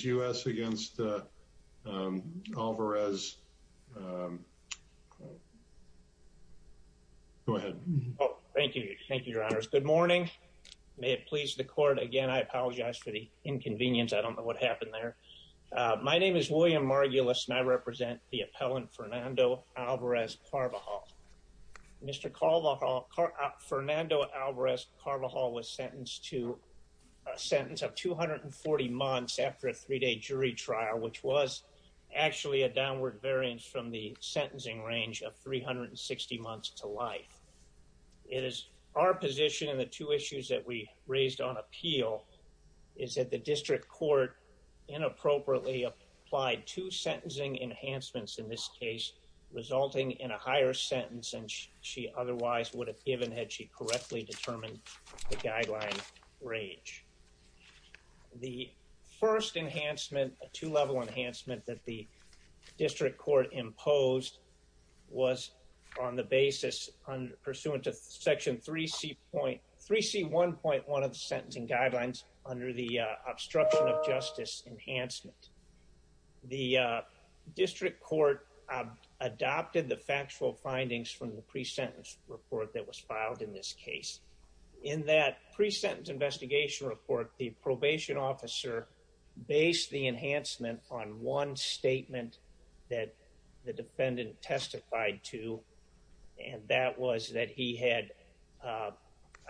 U.S. against Alvarez-Carvajal. Go ahead. Thank you. Thank you, your honors. Good morning. May it please the court. Again, I apologize for the inconvenience. I don't know what happened there. My name is William Margulis and I represent the appellant Fernando Alvarez-Carvajal. Mr. which was actually a downward variance from the sentencing range of 360 months to life. It is our position in the two issues that we raised on appeal is that the district court inappropriately applied two sentencing enhancements in this case, resulting in a higher sentence than she otherwise would have given had she correctly determined the guideline range. The first enhancement, a two-level enhancement that the district court imposed was on the basis on pursuant to section 3C point 3C 1.1 of the sentencing guidelines under the obstruction of justice enhancement. The district court adopted the factual findings from the pre-sentence report that was filed in this case. In that pre-sentence investigation report, the probation officer based the enhancement on one statement that the defendant testified to, and that was that he had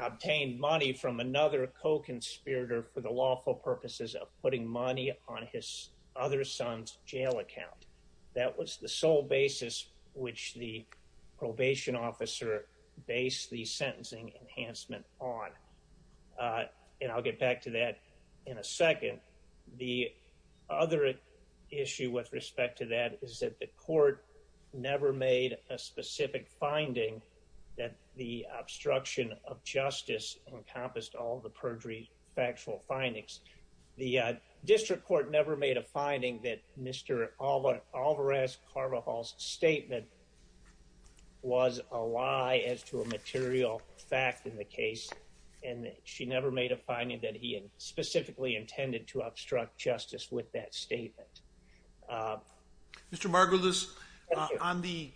obtained money from another co-conspirator for the lawful which the probation officer based the sentencing enhancement on. And I'll get back to that in a second. The other issue with respect to that is that the court never made a specific finding that the obstruction of justice encompassed all the perjury factual findings. The district court never made a finding that Mr. Alvarez Carvajal's statement was a lie as to a material fact in the case, and she never made a finding that he had specifically intended to obstruct justice with that statement. Mr. Margulis, on the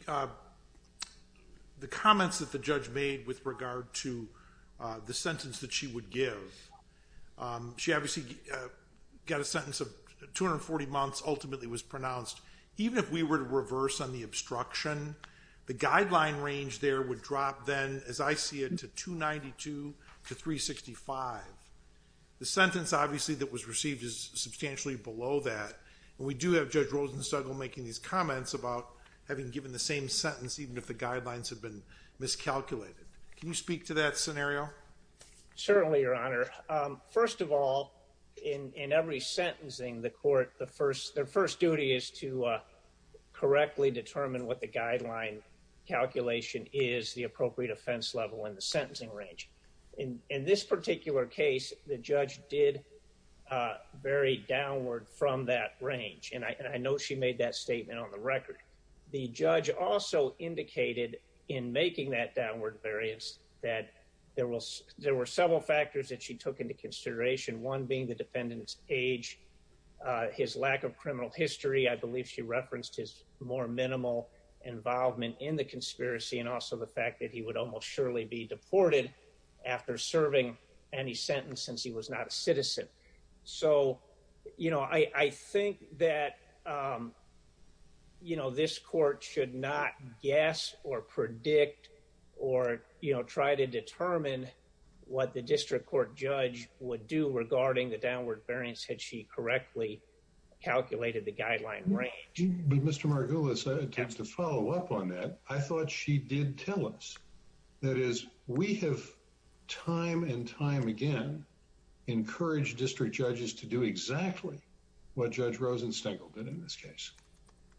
the comments that the judge made with regard to the sentence that she would give, she obviously got a sentence of 240 months, ultimately was pronounced. Even if we were to reverse on the obstruction, the guideline range there would drop then, as I see it, to 292 to 365. The sentence, obviously, that was received is substantially below that, and we do have Judge Rosenstegel making these comments about having given the same sentence even if the guidelines had been miscalculated. Can you speak to that scenario? Certainly, Your Honor. First of all, in every sentencing, the court, their first duty is to correctly determine what the guideline calculation is, the appropriate offense level, and the sentencing range. In this particular case, the judge did vary downward from that range, and I know she made that statement on the record. The judge also indicated, in making that downward variance, that there were several factors that she took into consideration, one being the defendant's age, his lack of criminal history. I believe she referenced his more minimal involvement in the conspiracy, and also the fact that he would almost surely be deported after serving any sentence since he was not a citizen. So, you know, I think that, you know, this court should not guess or predict or, you know, try to determine what the District Court judge would do regarding the downward variance had she correctly calculated the guideline range. But Mr. Margulis, just to follow up on that, I thought she did tell us. That is, we have time and time again encourage district judges to do exactly what Judge Rosenstein did in this case.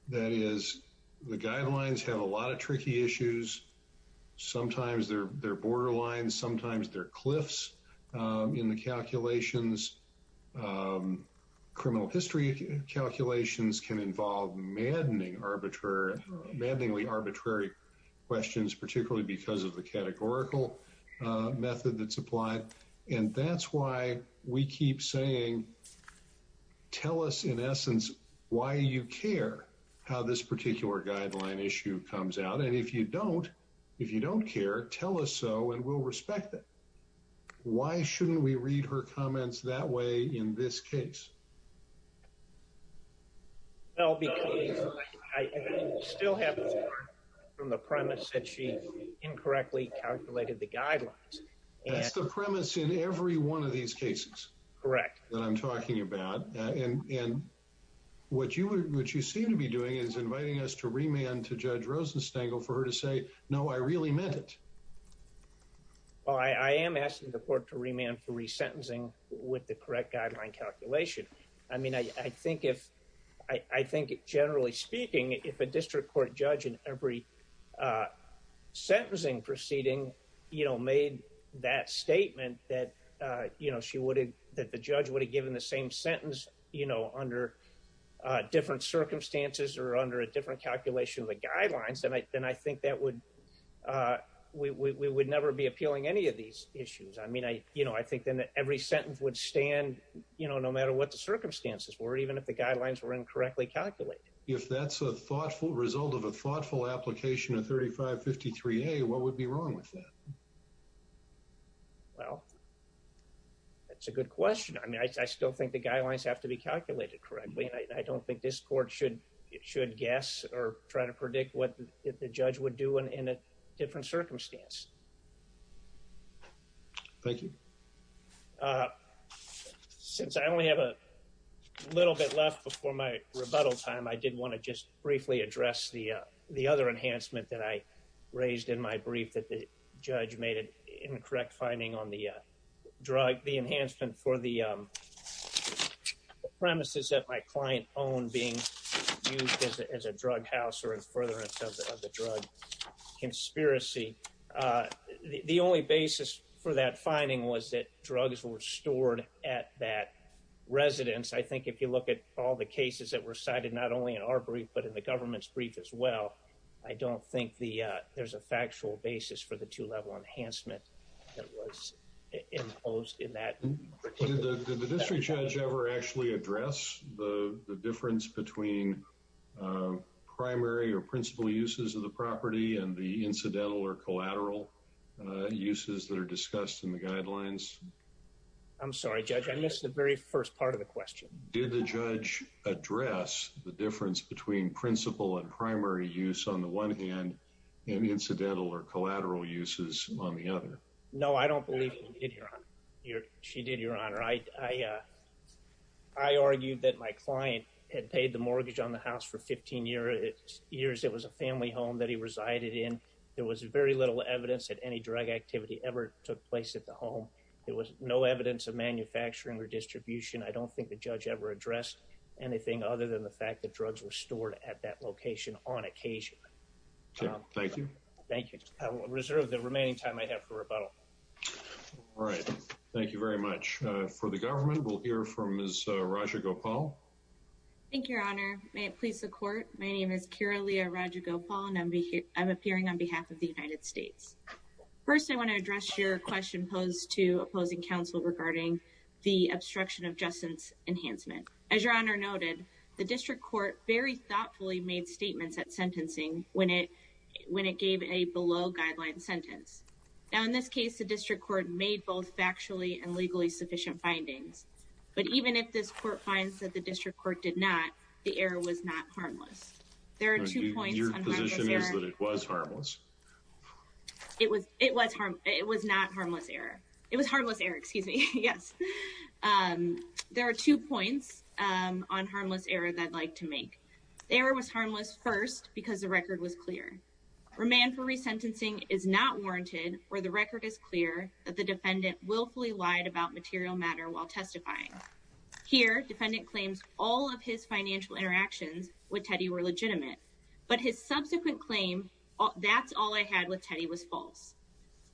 That is, the guidelines have a lot of tricky issues. Sometimes they're borderline, sometimes they're cliffs in the calculations. Criminal history calculations can involve maddening arbitrary, maddeningly arbitrary questions, particularly because of the categorical method that's applied. And that's why we keep saying, tell us, in essence, why you care how this particular guideline issue comes out. And if you don't, if you don't care, tell us so, and we'll respect it. Why shouldn't we read her comments that way in this case? Well, because I still have from the premise that she incorrectly calculated the guidelines. That's the premise in every one of these cases. Correct. That I'm talking about. And what you would, what you seem to be doing is inviting us to remand to Judge Rosenstein for her to say, no, I really meant it. I am asking the court to remand for resentencing with the correct guideline calculation. I mean, I think if, I think, generally speaking, if a district court judge in every sentencing proceeding, you know, made that statement that, you know, she would have, that the judge would have given the same sentence, you know, under different circumstances or under a different calculation of the guidelines, then I think that would, we would never be appealing any of these issues. I mean, I, you know, I think then every sentence would stand, you know, no matter what the circumstances were, even if the guidelines were incorrectly calculated. If that's a thoughtful result of a thoughtful application of 3553A, what would be wrong with that? Well, that's a good question. I mean, I still think the guidelines have to be calculated correctly. I don't think this court should, should guess or try to predict what the judge would do in a different circumstance. Thank you. Since I only have a little bit left before my rebuttal time, I did want to just briefly address the, the other enhancement that I raised in my brief that the judge made an incorrect finding on the drug, the enhancement for the premises that my client owned being used as a drug house or in furtherance of the drug conspiracy. The only basis for that finding was that drugs were stored at that residence. I think if you look at all the cases that were cited, not only in our brief, but in the government's brief as well, I don't think the, there's a factual basis for the two level enhancement that was imposed in that. Did the district judge ever actually address the difference between primary or principal uses of the property and the incidental or collateral uses that are discussed in the guidelines? I'm sorry, judge. I missed the very first part of the question. Did the judge address the difference between principal and primary use on the one hand and incidental or collateral uses on the other? No, I don't believe she did, your honor. I, I, uh, I argued that my client had paid the mortgage on the house for 15 years. It was a family home that he resided in. There was very little evidence that any drug activity ever took place at the home. There was no evidence of manufacturing or distribution. I don't think the judge ever addressed anything other than the fact that drugs were stored at that location on occasion. Thank you. Thank you. I will reserve the remaining time I have for rebuttal. All right. Thank you very much for the government. We'll hear from Ms. Raja Gopal. Thank you, your honor. May it please the court. My name is Kyra Leah Raja Gopal and I'm appearing on behalf of the United States. First, I want to address your question posed to opposing counsel regarding the obstruction of justice enhancement. As your honor noted, the district court very thoughtfully made statements at sentencing when it, when it gave a below guideline sentence. Now, in this case, the district court made both factually and legally sufficient findings. But even if this court finds that the district court did not, the error was not harmless. There are two points. Your position is that it was harmless? It was, it was harm, it was not harmless error. It was harmless error. Excuse me. Yes. There are two points on harmless error that I'd like to make. The error was harmless first because the record was clear. Remand for resentencing is not warranted where the record is clear that the defendant willfully lied about material matter while testifying. Here, defendant claims all of his financial interactions with Teddy were legitimate. But his subsequent claim, that's all I had with Teddy was false.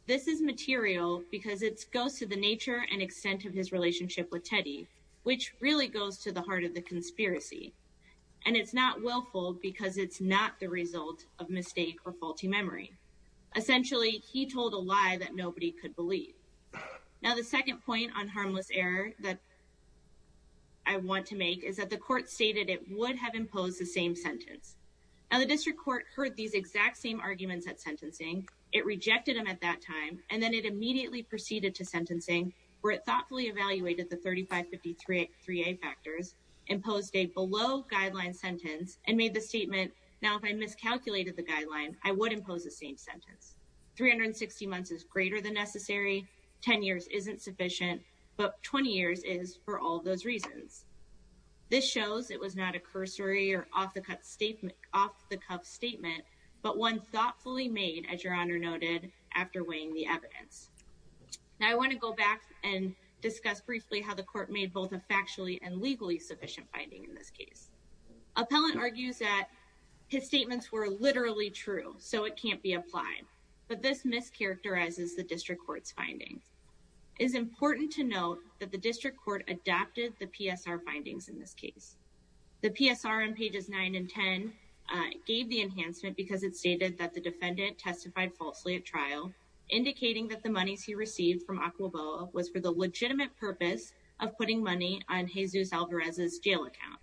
This is material because it goes to the nature and extent of his relationship with Teddy, which really goes to the heart of the conspiracy. And it's not willful because it's not the result of mistake or faulty memory. Essentially, he told a lie that nobody could believe. Now, the second point on harmless error that I want to make is that the court stated it would have imposed the same sentence. Now, the district court heard these exact same arguments at sentencing. It rejected them at that time, and then it immediately proceeded to sentencing where it thoughtfully evaluated the 3553A factors, imposed a below guideline sentence, and made the statement. Now, if I miscalculated the guideline, I would impose the same sentence. 360 months is greater than necessary. 10 years isn't sufficient. But 20 years is for all those reasons. This shows it was not a cursory or off-the-cuff statement, but one thoughtfully made, as Your Honor noted, after weighing the evidence. Now, I want to go back and discuss briefly how the court made both a factually and legally sufficient finding in this case. Appellant argues that his statements were literally true, so it can't be applied. But this mischaracterizes the district court's findings. It is important to note that the district court adapted the PSR findings in this case. The PSR on pages 9 and 10 gave the enhancement because it stated that the defendant testified falsely at trial, indicating that the monies he received from Aquaboa was for the legitimate purpose of putting money on Jesus Alvarez's jail account.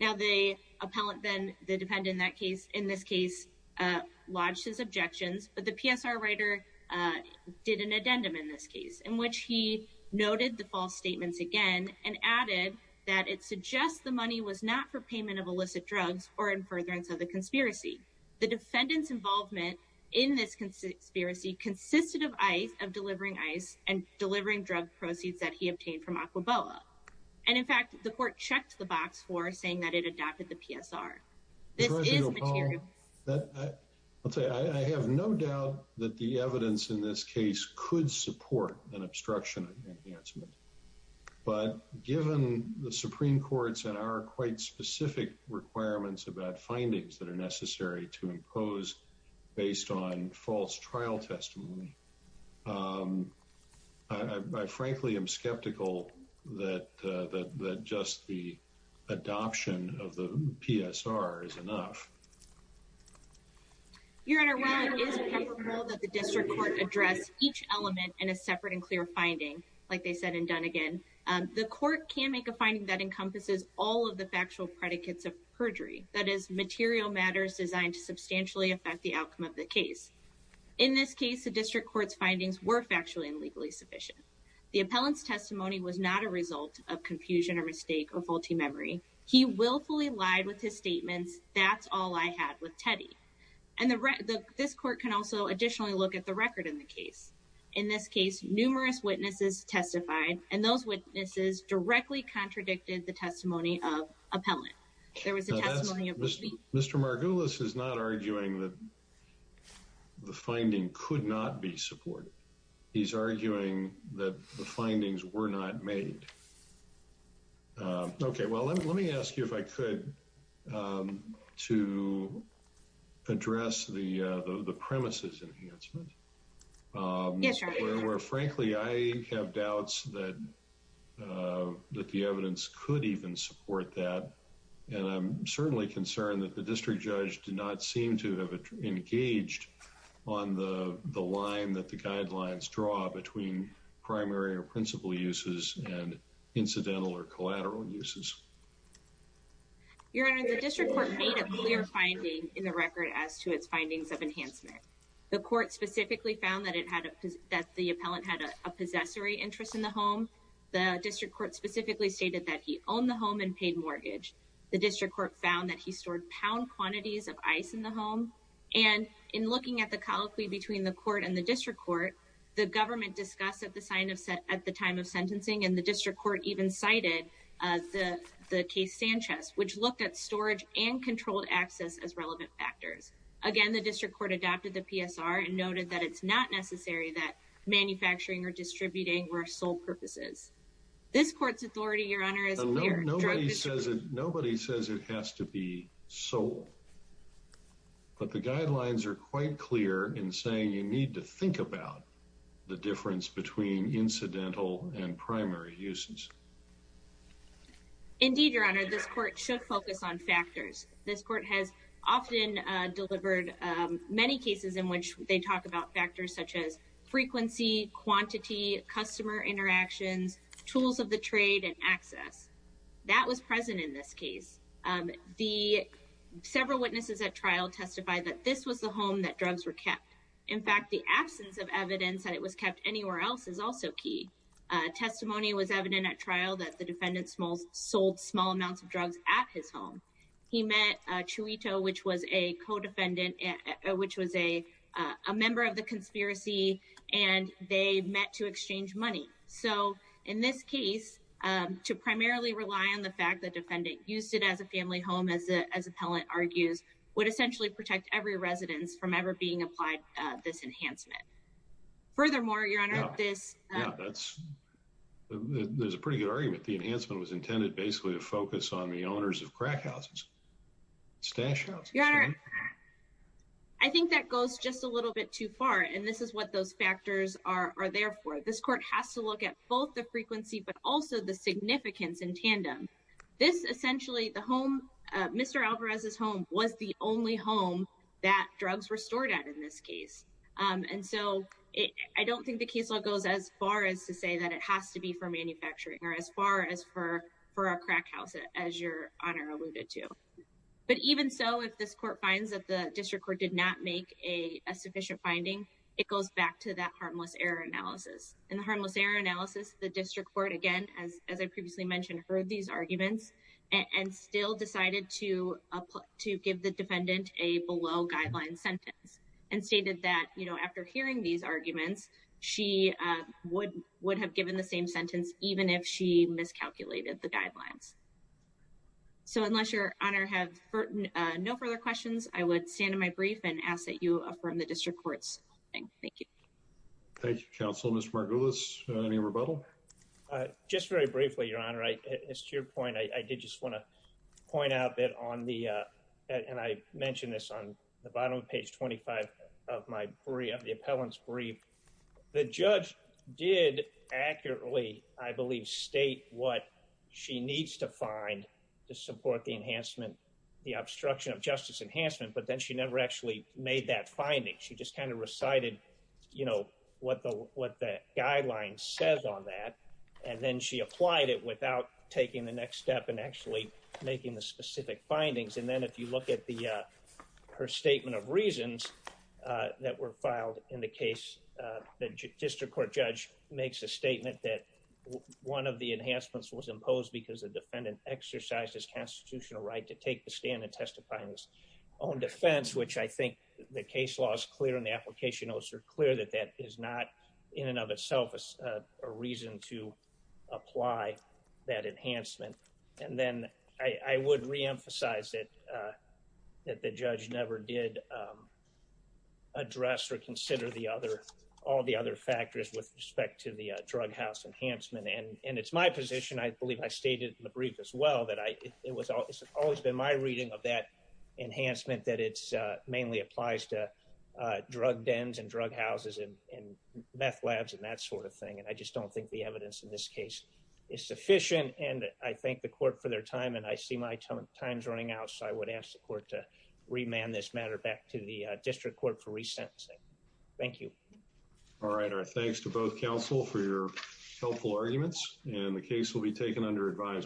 Now, the appellant, then the defendant in this case, lodged his objections, but the PSR writer did an addendum in this case, in which he noted the false statements again and added that it suggests the money was not for payment of illicit drugs or in furtherance of the conspiracy. The defendant's involvement in this conspiracy consisted of ICE, of delivering ICE and delivering drug proceeds that he obtained from Aquaboa. And in fact, the court checked the box for saying that it adapted the PSR. This is material. I'll tell you, I have no doubt that the evidence in this case could support an obstruction enhancement. But given the Supreme Court's and our quite specific requirements about findings that are necessary to impose based on false trial testimony. I frankly am skeptical that that just the adoption of the PSR is enough. Your Honor, while it is preferable that the district court address each element in a separate and clear finding, like they said and done again, the court can make a finding that encompasses all of the factual predicates of perjury. That is material matters designed to substantially affect the outcome of the case. In this case, the district court's findings were factually and legally sufficient. The appellant's testimony was not a result of confusion or mistake or faulty memory. He willfully lied with his statements. That's all I had with Teddy. And this court can also additionally look at the record in the case. In this case, numerous witnesses testified, and those witnesses directly contradicted the testimony of appellant. There was a testimony of Mr. Margulis is not arguing that the finding could not be supported. He's arguing that the findings were not made. OK, well, let me ask you if I could to address the the premises enhancement. Yes, sir. Well, frankly, I have doubts that that the evidence could even support that. And I'm certainly concerned that the district judge did not seem to have engaged on the the line that the guidelines draw between primary or principal uses and incidental or collateral uses. Your Honor, the district court made a clear finding in the record as to its findings of enhancement. The court specifically found that it had that the appellant had a possessory interest in the home. The district court specifically stated that he owned the home and paid mortgage. The district court found that he stored pound quantities of ice in the home. And in looking at the colloquy between the court and the district court, the government discussed at the sign of set at the time of sentencing. And the district court even cited the the case Sanchez, which looked at storage and controlled access as relevant factors. Again, the district court adopted the PSR and noted that it's not necessary that manufacturing or distributing were sole purposes. This court's authority, Your Honor, is nobody says it. Nobody says it has to be sold. But the guidelines are quite clear in saying you need to think about the difference between incidental and primary uses. Indeed, Your Honor, this court should focus on factors. This court has often delivered many cases in which they talk about factors such as frequency, quantity, customer interactions, tools of the trade and access. That was present in this case. The several witnesses at trial testified that this was the home that drugs were kept. In fact, the absence of evidence that it was kept anywhere else is also key. Testimony was evident at trial that the defendant smalls sold small amounts of drugs at his home. He met Chuito, which was a co-defendant, which was a member of the conspiracy, and they met to exchange money. So in this case, to primarily rely on the fact that defendant used it as a family home, as the as appellant argues, would essentially protect every residence from ever being applied this enhancement. Furthermore, Your Honor, this that's there's a pretty good argument. The enhancement was intended basically to focus on the owners of crack houses, stash. I think that goes just a little bit too far, and this is what those factors are there for. This court has to look at both the frequency, but also the significance in tandem. This essentially the home, Mr. Alvarez's home was the only home that drugs were stored at in this case. And so I don't think the case goes as far as to say that it has to be for manufacturing or as far as for for a crack house, as Your Honor alluded to. But even so, if this court finds that the district court did not make a sufficient finding, it goes back to that harmless error analysis and the harmless error analysis. The district court, again, as as I previously mentioned, heard these arguments and still decided to to give the defendant a below guideline sentence and stated that, you know, after hearing these arguments, she would would have given the same sentence, even if she miscalculated the guidelines. So, unless Your Honor have no further questions, I would stand in my brief and ask that you affirm the district courts. Thank you. Thank you, counsel. Mr. Margulis, any rebuttal? Just very briefly, Your Honor, it's to your point. I did just want to point out that on the and I mentioned this on the bottom of page twenty five of my brief, the appellant's brief. The judge did accurately, I believe, state what she needs to find to support the enhancement, the obstruction of justice enhancement. But then she never actually made that finding. She just kind of recited, you know, what the what the guideline says on that. And then she applied it without taking the next step and actually making the specific findings. And then if you look at the her statement of reasons that were filed in the case, the district court judge makes a statement that one of the enhancements was imposed because the defendant exercised his constitutional right to take the stand and testify in his own defense, which I think the case law is clear and the application notes are clear that that is not in and of itself a reason to apply that enhancement. And then I would reemphasize that that the judge never did address or consider the other all the other factors with respect to the drug house enhancement. And it's my position, I believe I stated in the brief as well, that it was always been my reading of that enhancement, that it's mainly applies to drug dens and drug houses and meth labs and that sort of thing. And I just don't think the evidence in this case is sufficient. And I thank the court for their time. And I see my time's running out. So I would ask the court to remand this matter back to the district court for resentencing. Thank you. All right. Our thanks to both counsel for your helpful arguments and the case will be taken under advisement.